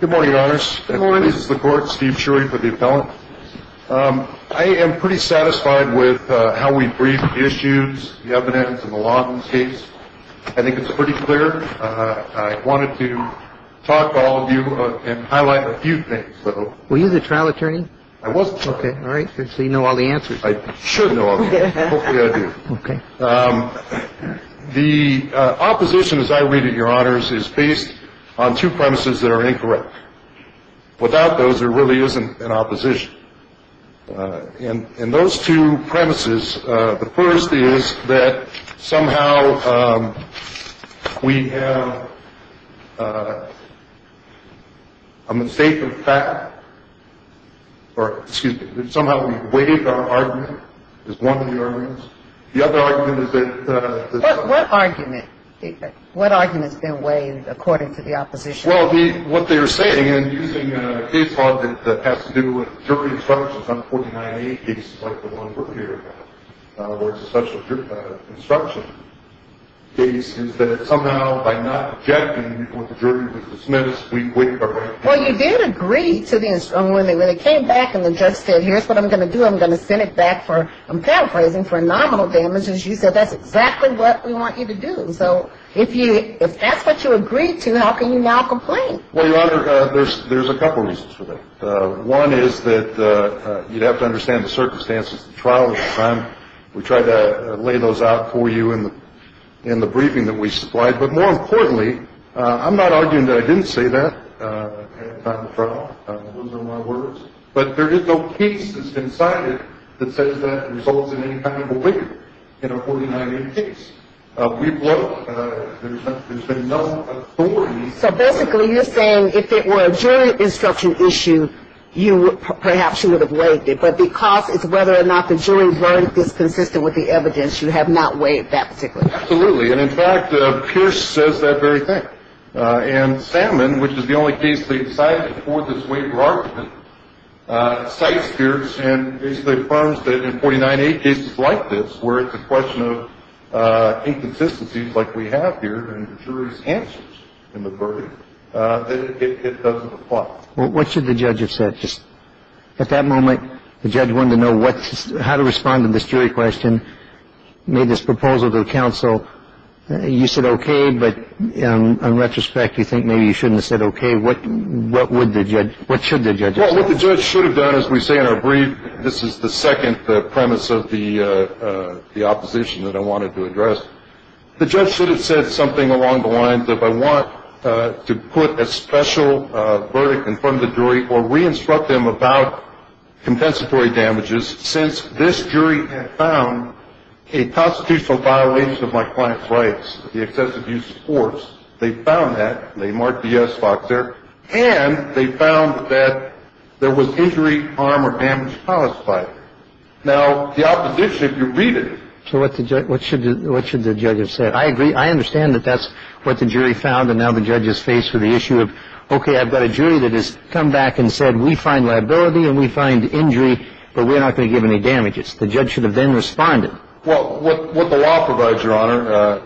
Good morning, Your Honors. I am pretty satisfied with how we briefed the issues, the evidence, and the law in this case. I think it's pretty clear. I wanted to talk to all of you and highlight a few things. Were you the trial attorney? I was the trial attorney. All right, so you know all the answers. I should know all the answers. Hopefully I do. Okay. The opposition, as I read it, Your Honors, is based on two premises that are incorrect. Without those, there really isn't an opposition. In those two premises, the first is that somehow we have a mistake of fact, or excuse me, that somehow we waived our argument, is one of the arguments. The other argument is that... What argument? What argument has been waived according to the opposition? Well, what they are saying, and using a case law that has to do with jury instructions on 49A cases like the one we're here about, where it's a special instruction case, is that somehow by not objecting when the jury was dismissed, we waived our argument. Well, you did agree to the instruction. When it came back and the judge said, here's what I'm going to do. I'm going to send it back for, I'm paraphrasing, for nominal damages, you said that's exactly what we want you to do. And so if that's what you agreed to, how can you now complain? Well, Your Honor, there's a couple reasons for that. One is that you'd have to understand the circumstances of the trial at the time. We tried to lay those out for you in the briefing that we supplied. But more importantly, I'm not arguing that I didn't say that at the time of the trial. Those are my words. But there is no case that's been cited that says that results in any kind of waiver in a 49A case. We've looked. There's been no authority. So basically you're saying if it were a jury instruction issue, perhaps you would have waived it. But because it's whether or not the jury's verdict is consistent with the evidence, you have not waived that particular case. Absolutely. And, in fact, Pierce says that very thing. And Salmon, which is the only case they decided to forward this waiver argument, cites Pierce and basically affirms that in 49A cases like this, where it's a question of inconsistencies like we have here in the jury's answers in the verdict, it doesn't apply. What should the judge have said? At that moment, the judge wanted to know how to respond to this jury question, made this proposal to the counsel. You said okay, but in retrospect, you think maybe you shouldn't have said okay. What should the judge have said? Well, what the judge should have done, as we say in our brief, this is the second premise of the opposition that I wanted to address, the judge should have said something along the lines of I want to put a special verdict in front of the jury or re-instruct them about compensatory damages since this jury had found a constitutional violation of my client's rights, the excessive use of force. They found that. They marked the yes box there. And they found that there was injury, harm, or damage caused by it. Now, the opposition, if you read it. So what should the judge have said? I agree. I understand that that's what the jury found, and now the judge is faced with the issue of okay, I've got a jury that has come back and said we find liability and we find injury, but we're not going to give any damages. The judge should have then responded. Well, what the law provides, Your Honor,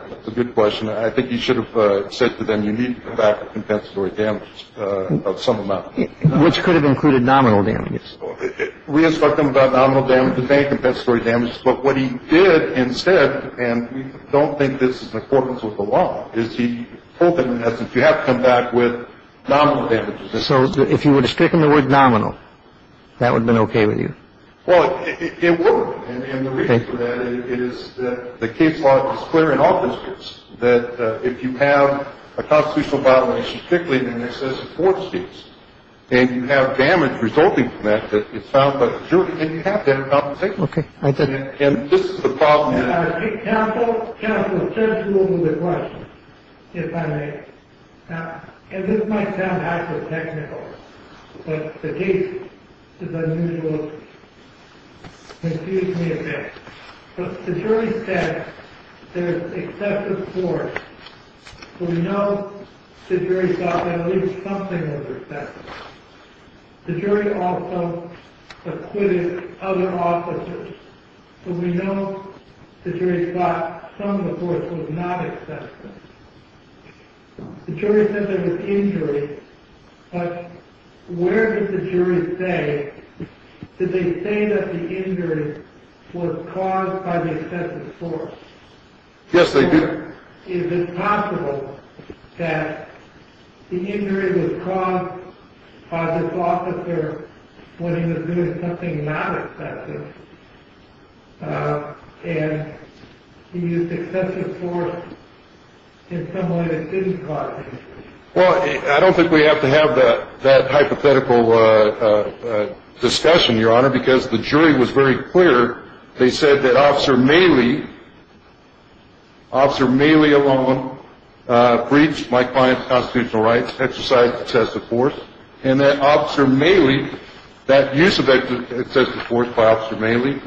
that's a good question. I think he should have said to them you need to come back with compensatory damages of some amount. Which could have included nominal damages. Re-instruct them about nominal damages and compensatory damages. But what he did instead, and we don't think this is in accordance with the law, is he told them in essence you have to come back with nominal damages. So if you would have stricken the word nominal, that would have been okay with you? Well, it would. And the reason for that is that the case law is clear in all districts, that if you have a constitutional violation strictly in excess of four seats and you have damage resulting from that, it's found by the jury and you have to have compensation. Okay. I get it. And this is the problem. Counsel, counsel, let's move on to the question, if I may. Now, this might sound hyper-technical, but the case is unusual. Excuse me a minute. The jury said there's excessive force. We know the jury thought that at least something was excessive. The jury also acquitted other officers. But we know the jury thought some of the force was not excessive. The jury said there was injury, but where did the jury say, did they say that the injury was caused by the excessive force? Yes, they did. Your Honor, is it possible that the injury was caused by this officer when he was doing something not excessive, and he used excessive force in some way that didn't cause injury? Well, I don't think we have to have that hypothetical discussion, Your Honor, because the jury was very clear. They said that Officer Maley, Officer Maley alone breached my client's constitutional rights, exercised excessive force, and that Officer Maley, that use of excessive force by Officer Maley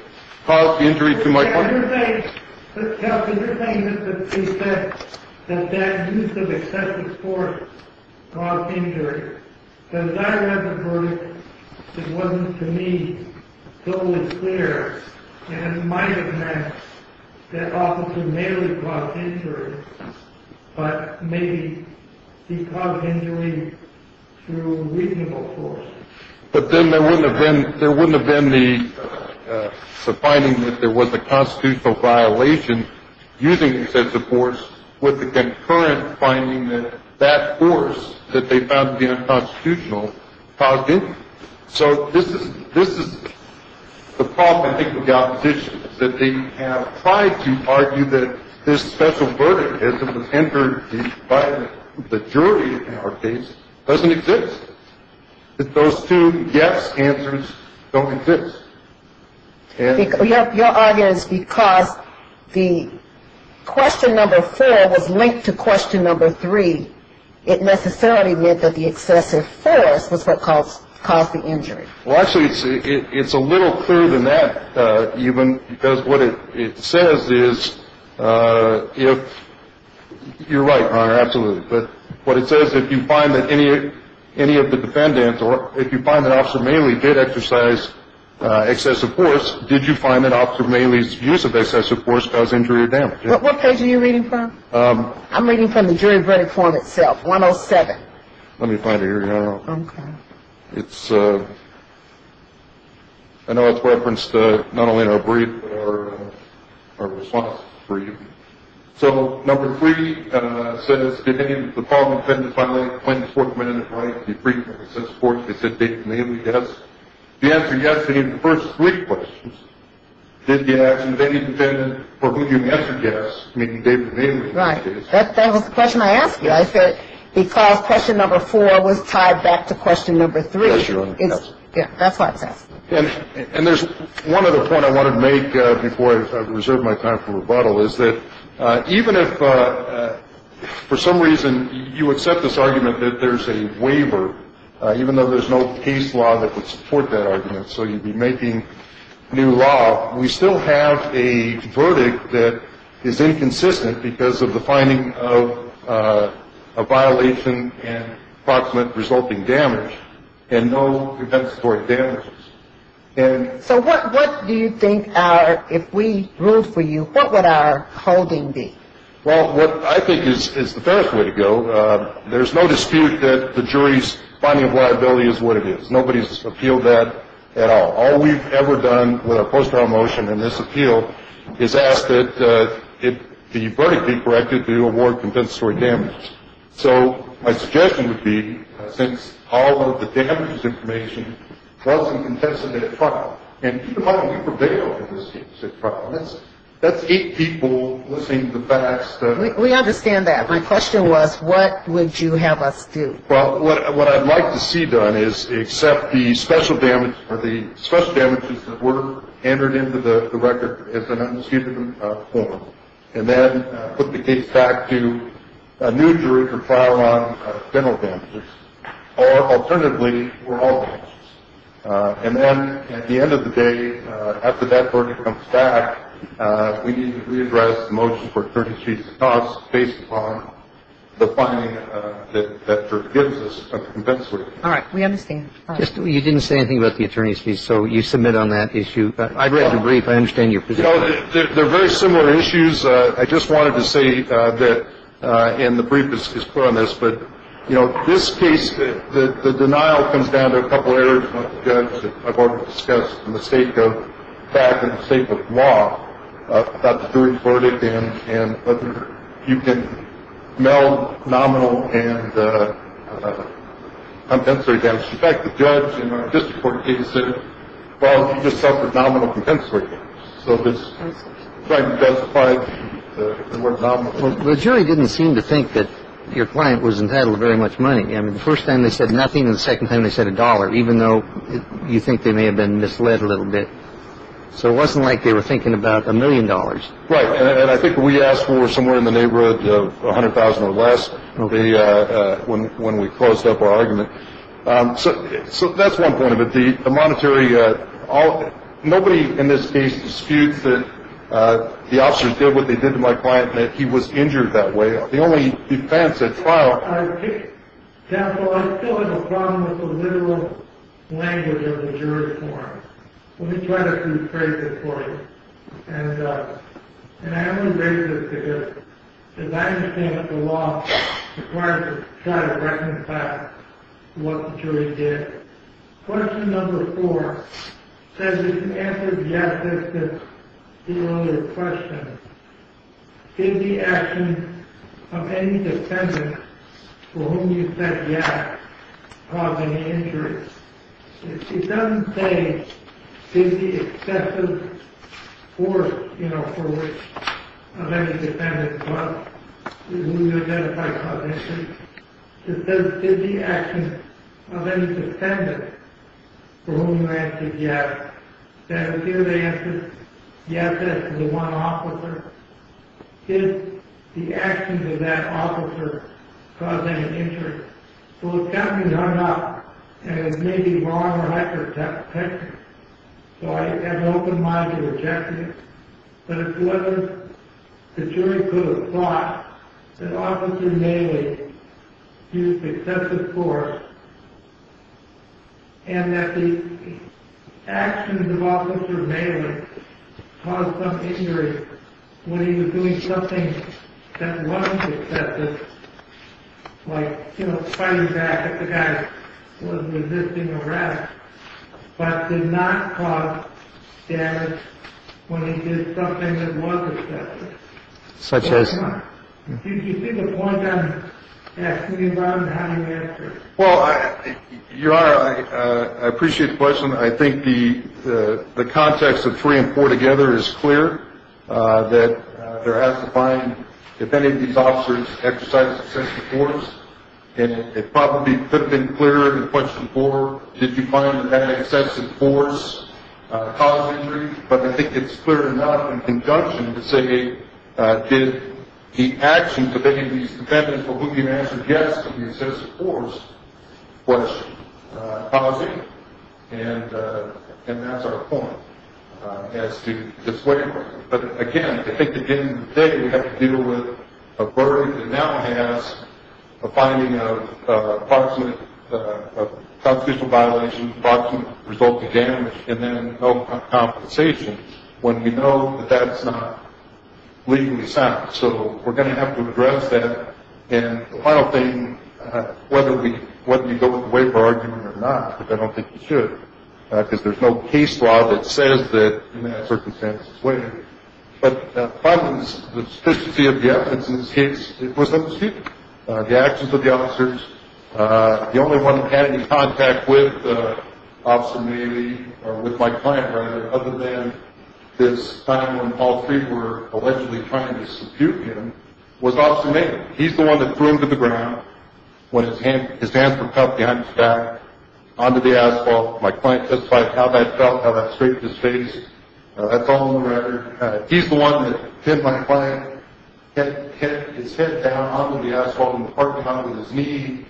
caused injury to my client. Counsel, you're saying that he said that that use of excessive force caused injury. As I read the verdict, it wasn't to me totally clear, and it might have meant that Officer Maley caused injury, but maybe he caused injury through reasonable force. But then there wouldn't have been the finding that there was a constitutional violation using excessive force with the concurrent finding that that force that they found to be unconstitutional caused injury. So this is the problem, I think, with the opposition, is that they have tried to argue that this special verdict, as it was entered by the jury in our case, doesn't exist. Those two yes answers don't exist. Your argument is because the question number four was linked to question number three. It necessarily meant that the excessive force was what caused the injury. Well, actually, it's a little clearer than that, even, because what it says is, you're right, Your Honor, absolutely. But what it says, if you find that any of the defendants, or if you find that Officer Maley did exercise excessive force, did you find that Officer Maley's use of excessive force caused injury or damage? What case are you reading from? I'm reading from the jury verdict form itself, 107. Let me find it here, Your Honor. Okay. I know it's referenced not only in our brief, but our response for you. So number three says, did any of the following defendants violate the plaintiff's fourth amendment right to be free from excessive force? They said David Maley, yes. The answer, yes, is in the first three questions. Did the action of any defendant for whom you answered yes, meaning David Maley in this case? Right. That was the question I asked you. I said, because question number four was tied back to question number three. Yes, Your Honor. Yes. Yeah, that's what I was asking. And there's one other point I wanted to make before I reserve my time for rebuttal, is that even if for some reason you accept this argument that there's a waiver, even though there's no case law that would support that argument, so you'd be making new law, we still have a verdict that is inconsistent because of the finding of a violation and approximate resulting damage and no compensatory damages. So what do you think our, if we ruled for you, what would our holding be? Well, what I think is the fairest way to go, there's no dispute that the jury's finding of liability is what it is. Nobody's appealed that at all. All we've ever done with a post-trial motion in this appeal is ask that the verdict be corrected to award compensatory damage. So my suggestion would be, since all of the damages information wasn't contested at trial, and even though we prevailed in this case at trial, that's eight people listening to the facts. We understand that. My question was, what would you have us do? Well, what I'd like to see done is accept the special damage or the special damages that were entered into the record as an unsuited form, and then put the case back to a new jury to trial on general damages, or alternatively, overall damages. And then at the end of the day, after that verdict comes back, we need to readdress the motion for attorney's fees and costs based upon the finding that the jury gives us of compensatory. All right. We understand. You didn't say anything about the attorney's fees, so you submit on that issue. I've read the brief. I understand your position. You know, they're very similar issues. I just wanted to say that, and the brief is clear on this, but, you know, this case, the denial comes down to a couple of areas that I've already discussed, and the state of fact and the state of law about the jury's verdict and whether you can meld nominal and compensatory damage. In fact, the judge in our district court case said, well, you just suffered nominal compensatory damage. So if it's compensatory, then we're nominal. Well, the jury didn't seem to think that your client was entitled to very much money. I mean, the first time they said nothing, and the second time they said a dollar, even though you think they may have been misled a little bit. So it wasn't like they were thinking about a million dollars. Right. And I think we asked for somewhere in the neighborhood of $100,000 or less when we closed up our argument. So that's one point of it. Nobody in this case disputes that the officers did what they did to my client and that he was injured that way. The only defense at trial— Counsel, I still have a problem with the literal language of the jury's form. Let me try to rephrase it for you. And I only rephrase it because it's not interesting that the law requires us to try to reconcile what the jury did. Question number four says that you answered yes as to the earlier question. Did the action of any defendant for whom you said yes cause any injury? It doesn't say, did the excessive force, you know, for which—of any defendant—who you identified cause injury. It says, did the action of any defendant for whom you answered yes. And here they answered yes as to the one officer. Did the action of that officer cause any injury? So it's definitely not—and it may be wrong or accurate to have picked it. So I have an open mind to reject it. But it wasn't—the jury could have thought that Officer Maley used excessive force and that the actions of Officer Maley caused some injury when he was doing something that wasn't excessive, like, you know, fighting back if the guy was resisting arrest, but did not cause damage when he did something that was excessive. Such as? Do you see the point I'm asking you about and how you answer it? Well, Your Honor, I appreciate the question. I think the context of three and four together is clear, that there has to find, if any of these officers exercised excessive force, and it probably could have been clearer in question four, did you find that that excessive force caused injury? But I think it's clear enough in conjunction to say, did the actions of any of these defendants for whom you answered yes to the excessive force question cause injury? And that's our point as to this way of looking at it. But again, I think at the end of the day, we have to deal with a verdict that now has a finding of constitutional violation, fraudulent resulting damage, and then no compensation, when we know that that's not legally sound. So we're going to have to address that. And the final thing, whether you go with the waiver argument or not, but I don't think you should, because there's no case law that says that in that circumstance it's waived. But finally, the sufficiency of the evidence in this case, it was understood. The actions of the officers, the only one who had any contact with Officer Maley, or with my client rather, other than this time when all three were allegedly trying to subdue him, was Officer Maley. He's the one that threw him to the ground, his hands were cuffed behind his back, onto the asphalt. My client testified how that felt, how that straightened his face. That's all on the record. He's the one that hit my client, his head down onto the asphalt in the parking lot with his knee,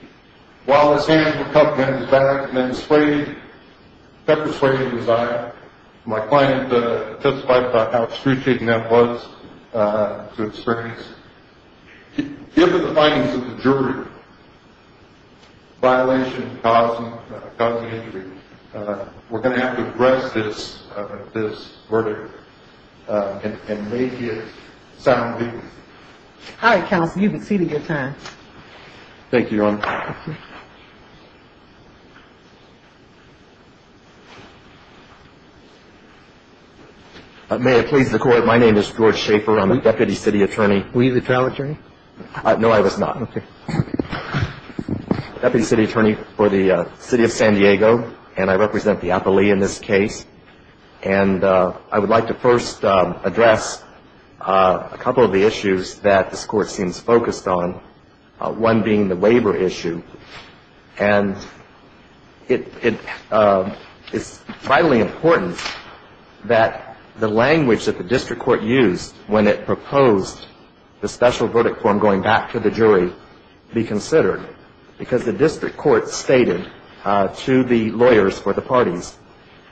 while his hands were cuffed behind his back and then sprayed pepper spray in his eye. My client testified about how excruciating that was to experience. Given the findings of the jury, violation, causing injury, we're going to have to address this verdict and make it sound legal. All right, counsel, you've exceeded your time. Thank you, Your Honor. May it please the Court. My name is George Schaefer. I'm a Deputy City Attorney. Were you the trial attorney? No, I was not. Okay. Deputy City Attorney for the City of San Diego, and I represent the appellee in this case. And I would like to first address a couple of the issues that this Court seems focused on, one being the waiver issue. And it's vitally important that the language that the district court used when it proposed the special verdict form going back to the jury be considered, because the district court stated to the lawyers for the parties,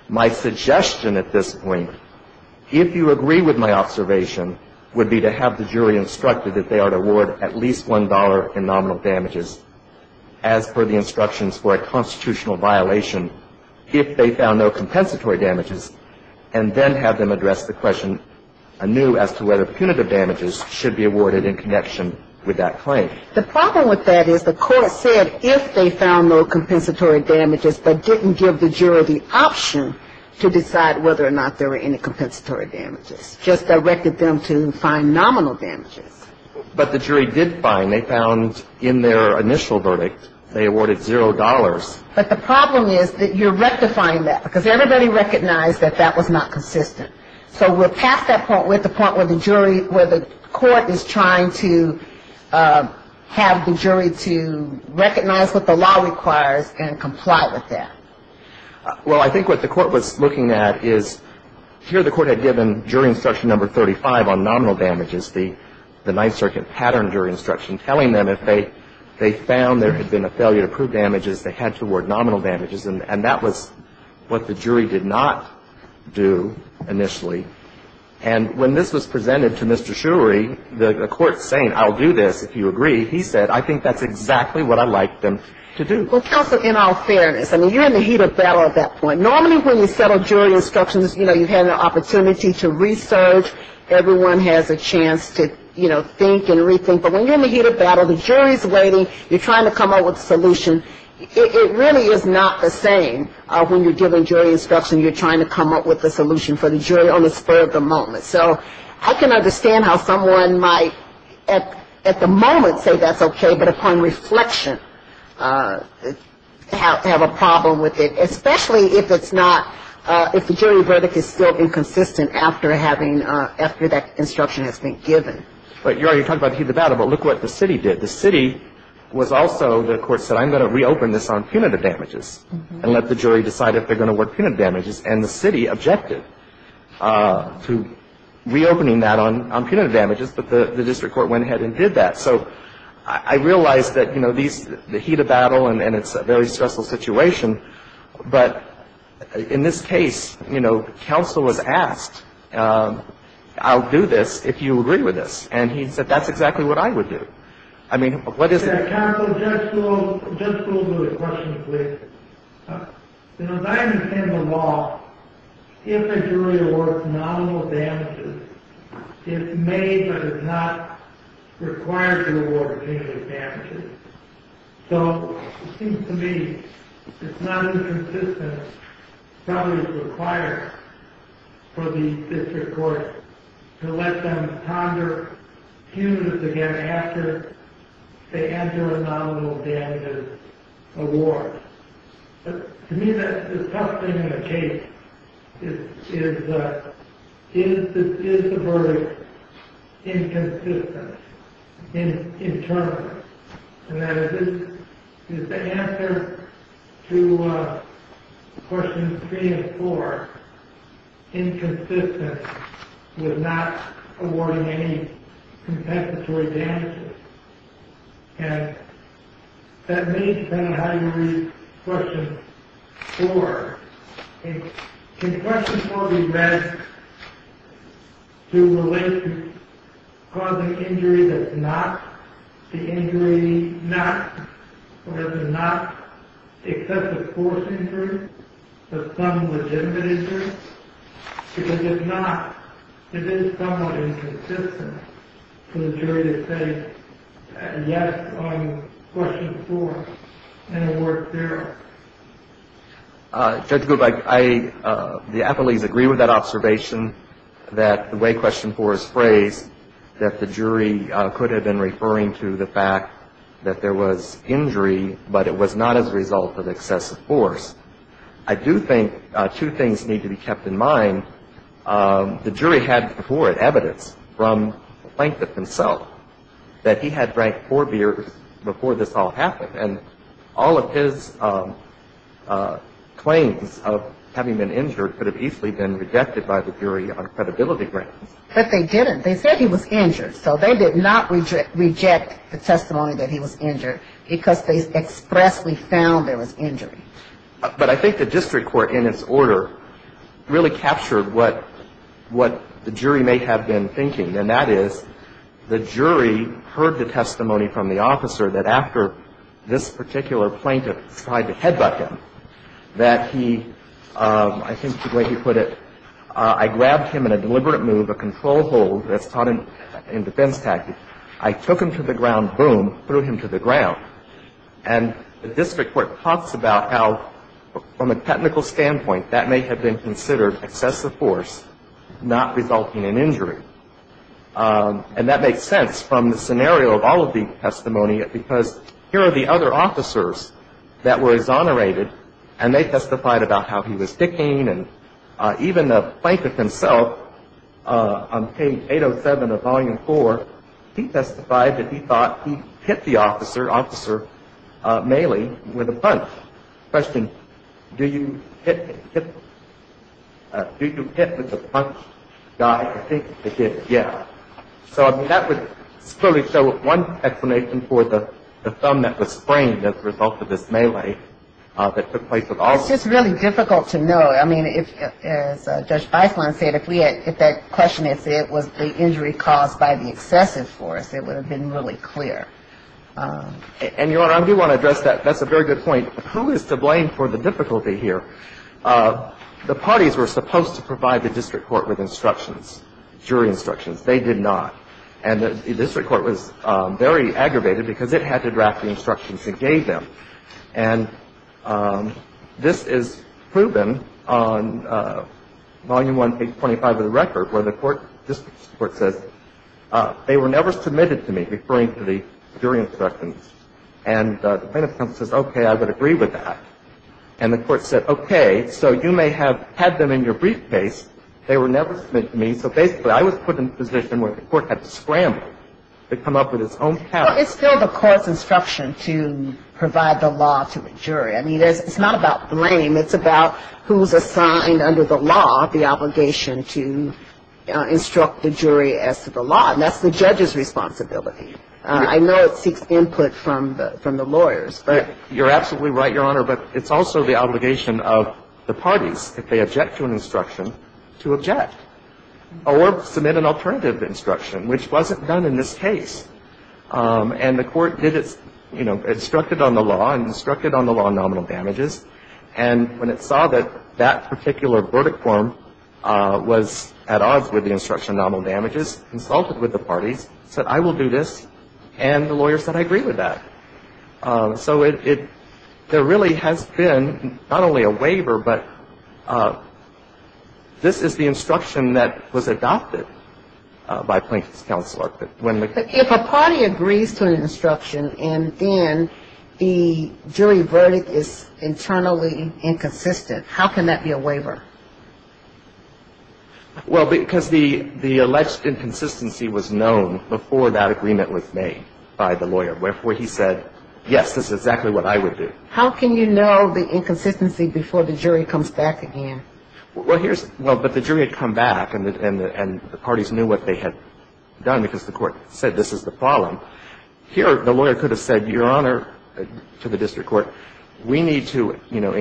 my suggestion at this point, if you agree with my observation, would be to have the jury instructed that they are to award at least $1 in nominal damages as per the instructions for a constitutional violation if they found no compensatory damages, and then have them address the question anew as to whether punitive damages should be awarded in connection with that claim. The problem with that is the court said if they found no compensatory damages, but didn't give the jury the option to decide whether or not there were any compensatory damages, just directed them to find nominal damages. But the jury did find. They found in their initial verdict they awarded $0. But the problem is that you're rectifying that, because everybody recognized that that was not consistent. So we're past that point. We're at the point where the jury, where the court is trying to have the jury to recognize what the law requires and comply with that. Well, I think what the court was looking at is here the court had given jury instruction number 35 on nominal damages, the Ninth Circuit pattern jury instruction, telling them if they found there had been a failure to prove damages, they had to award nominal damages. And that was what the jury did not do initially. And when this was presented to Mr. Shurey, the court saying, I'll do this if you agree, he said, I think that's exactly what I'd like them to do. Well, counsel, in all fairness, I mean, you're in the heat of battle at that point. Normally when you settle jury instructions, you know, you've had an opportunity to research. Everyone has a chance to, you know, think and rethink. But when you're in the heat of battle, the jury's waiting. You're trying to come up with a solution. It really is not the same when you're giving jury instruction. You're trying to come up with a solution for the jury on the spur of the moment. So I can understand how someone might at the moment say that's okay, but upon reflection have a problem with it, especially if it's not, if the jury verdict is still inconsistent after having, after that instruction has been given. But, Your Honor, you're talking about the heat of battle, but look what the city did. The city was also, the court said, I'm going to reopen this on punitive damages and let the jury decide if they're going to award punitive damages. And the city objected to reopening that on punitive damages, but the district court went ahead and did that. So I realize that, you know, these, the heat of battle and it's a very stressful situation, but in this case, you know, counsel was asked, I'll do this if you agree with this. And he said that's exactly what I would do. I mean, what is it? Your Honor, just a little bit of a question, please. You know, as I understand the law, if a jury awards nominal damages, it may but it's not required to award punitive damages. So it seems to me it's not inconsistent, probably it's required for the district court to let them ponder punitive damages again after they enter a nominal damages award. To me, the tough thing in the case is, is the verdict inconsistent internally? And that is, is the answer to questions three and four inconsistent with not awarding any compensatory damages? And that may depend on how you read question four. Can question four be read to relate to causing injury that's not the injury not, or that's not excessive force injury but some legitimate injury? Because if not, it is somewhat inconsistent for the jury to say yes on question four and award zero. Judge Gould, I, the appellees agree with that observation that the way question four is phrased, that the jury could have been referring to the fact that there was injury but it was not as a result of excessive force. I do think two things need to be kept in mind. The jury had before it evidence from Plankfitt himself that he had drank four beers before this all happened. And all of his claims of having been injured could have easily been rejected by the jury on credibility grounds. But they didn't. They said he was injured. So they did not reject the testimony that he was injured because they expressly found there was injury. But I think the district court in its order really captured what the jury may have been thinking. And that is the jury heard the testimony from the officer that after this particular plaintiff tried to headbutt him, that he, I think the way he put it, I grabbed him in a deliberate move, a control hold that's taught in defense tactics. I took him to the ground, boom, threw him to the ground. And the district court talks about how from a technical standpoint that may have been considered excessive force not resulting in injury. And that makes sense from the scenario of all of the testimony because here are the other officers that were exonerated and they testified about how he was dicking and even Plankfitt himself on page 807 of Volume 4, he testified that he thought he hit the officer, officer Mailey, with a punch. Question, do you hit with a punch, guy? I think he did, yeah. So I mean that would clearly show one explanation for the thumb that was sprained as a result of this melee that took place. It's just really difficult to know. I mean, as Judge Biceland said, if that question was the injury caused by the excessive force, it would have been really clear. And, Your Honor, I do want to address that. That's a very good point. Who is to blame for the difficulty here? The parties were supposed to provide the district court with instructions, jury instructions. They did not. And the district court was very aggravated because it had to draft the instructions it gave them. And this is proven on Volume 1, page 25 of the record, where the district court says, they were never submitted to me, referring to the jury instructions. And the plaintiff comes and says, okay, I would agree with that. And the court said, okay, so you may have had them in your briefcase. They were never submitted to me. So basically I was put in a position where the court had to scramble to come up with its own case. Well, it's still the court's instruction to provide the law to a jury. I mean, it's not about blame. It's about who's assigned under the law the obligation to instruct the jury as to the law. And that's the judge's responsibility. I know it seeks input from the lawyers. But you're absolutely right, Your Honor. But it's also the obligation of the parties, if they object to an instruction, to object or submit an alternative instruction, which wasn't done in this case. And the court did its, you know, instructed on the law and instructed on the law nominal damages. And when it saw that that particular verdict form was at odds with the instruction nominal damages, consulted with the parties, said, I will do this. And the lawyer said, I agree with that. So there really has been not only a waiver, but this is the instruction that was adopted by Plaintiff's counsel. If a party agrees to an instruction and then the jury verdict is internally inconsistent, how can that be a waiver? Well, because the alleged inconsistency was known before that agreement was made by the lawyer. Wherefore, he said, yes, this is exactly what I would do. How can you know the inconsistency before the jury comes back again? Well, here's – well, but the jury had come back and the parties knew what they had done because the court said this is the problem. Here, the lawyer could have said, Your Honor, to the district court, we need to, you know,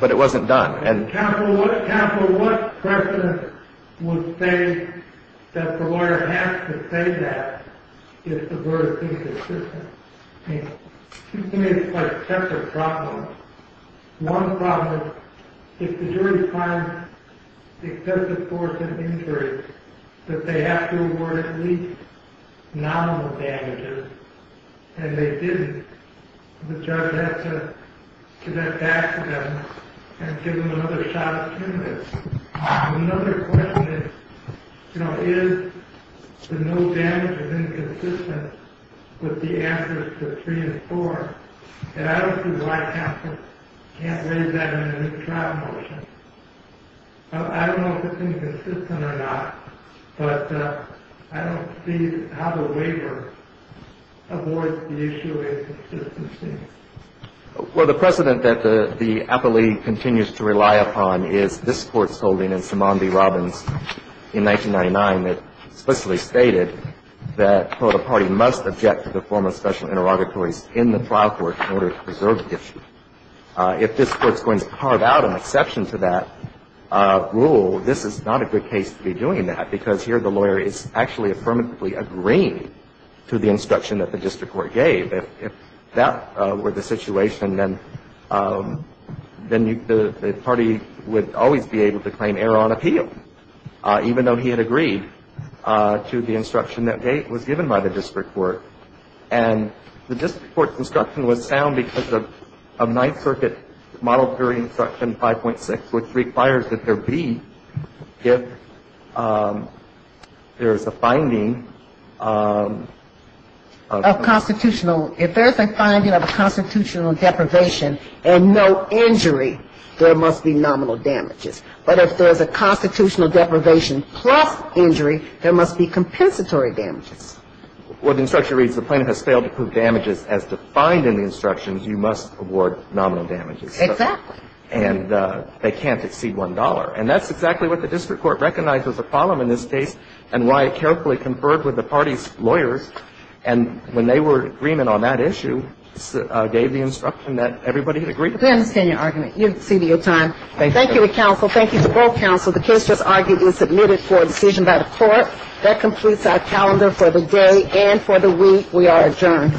But it wasn't done. Counsel, what precedent would say that the lawyer has to say that if the verdict is inconsistent? I mean, two things are quite separate problems. One problem is if the jury finds excessive force and injury, that they have to award at least nominal damages. And if they didn't, the judge has to get back to them and give them another shot at terminating. Another question is, you know, is the no damage inconsistent with the answers to three and four? And I don't see why counsel can't raise that in a new trial motion. I don't know if it's inconsistent or not, but I don't see how the waiver avoids the issue of inconsistency. Well, the precedent that the appellee continues to rely upon is this Court's holding in Simone v. Robbins in 1999 that explicitly stated that, well, the party must object to the form of special interrogatories in the trial court in order to preserve the issue. If this Court's going to carve out an exception to that rule, this is not a good case to be doing that, because here the lawyer is actually affirmatively agreeing to the instruction that the district court gave. If that were the situation, then the party would always be able to claim error on appeal, even though he had agreed to the instruction that was given by the district court. And the district court's instruction was sound because of Ninth Circuit Model Theory Instruction 5.6, which requires that there be, if there is a finding of constitutional. If there is a finding of a constitutional deprivation and no injury, there must be nominal damages. But if there is a constitutional deprivation plus injury, there must be compensatory damages. Well, the instruction reads, the plaintiff has failed to prove damages as defined in the instructions. You must award nominal damages. Exactly. And they can't exceed $1. And that's exactly what the district court recognized as a problem in this case and why it carefully conferred with the party's lawyers. And when they were in agreement on that issue, gave the instruction that everybody had agreed to that. We understand your argument. You've exceeded your time. Thank you. Thank you to counsel. Thank you to both counsel. The case just argued is submitted for a decision by the Court. That completes our calendar for the day and for the week. We are adjourned.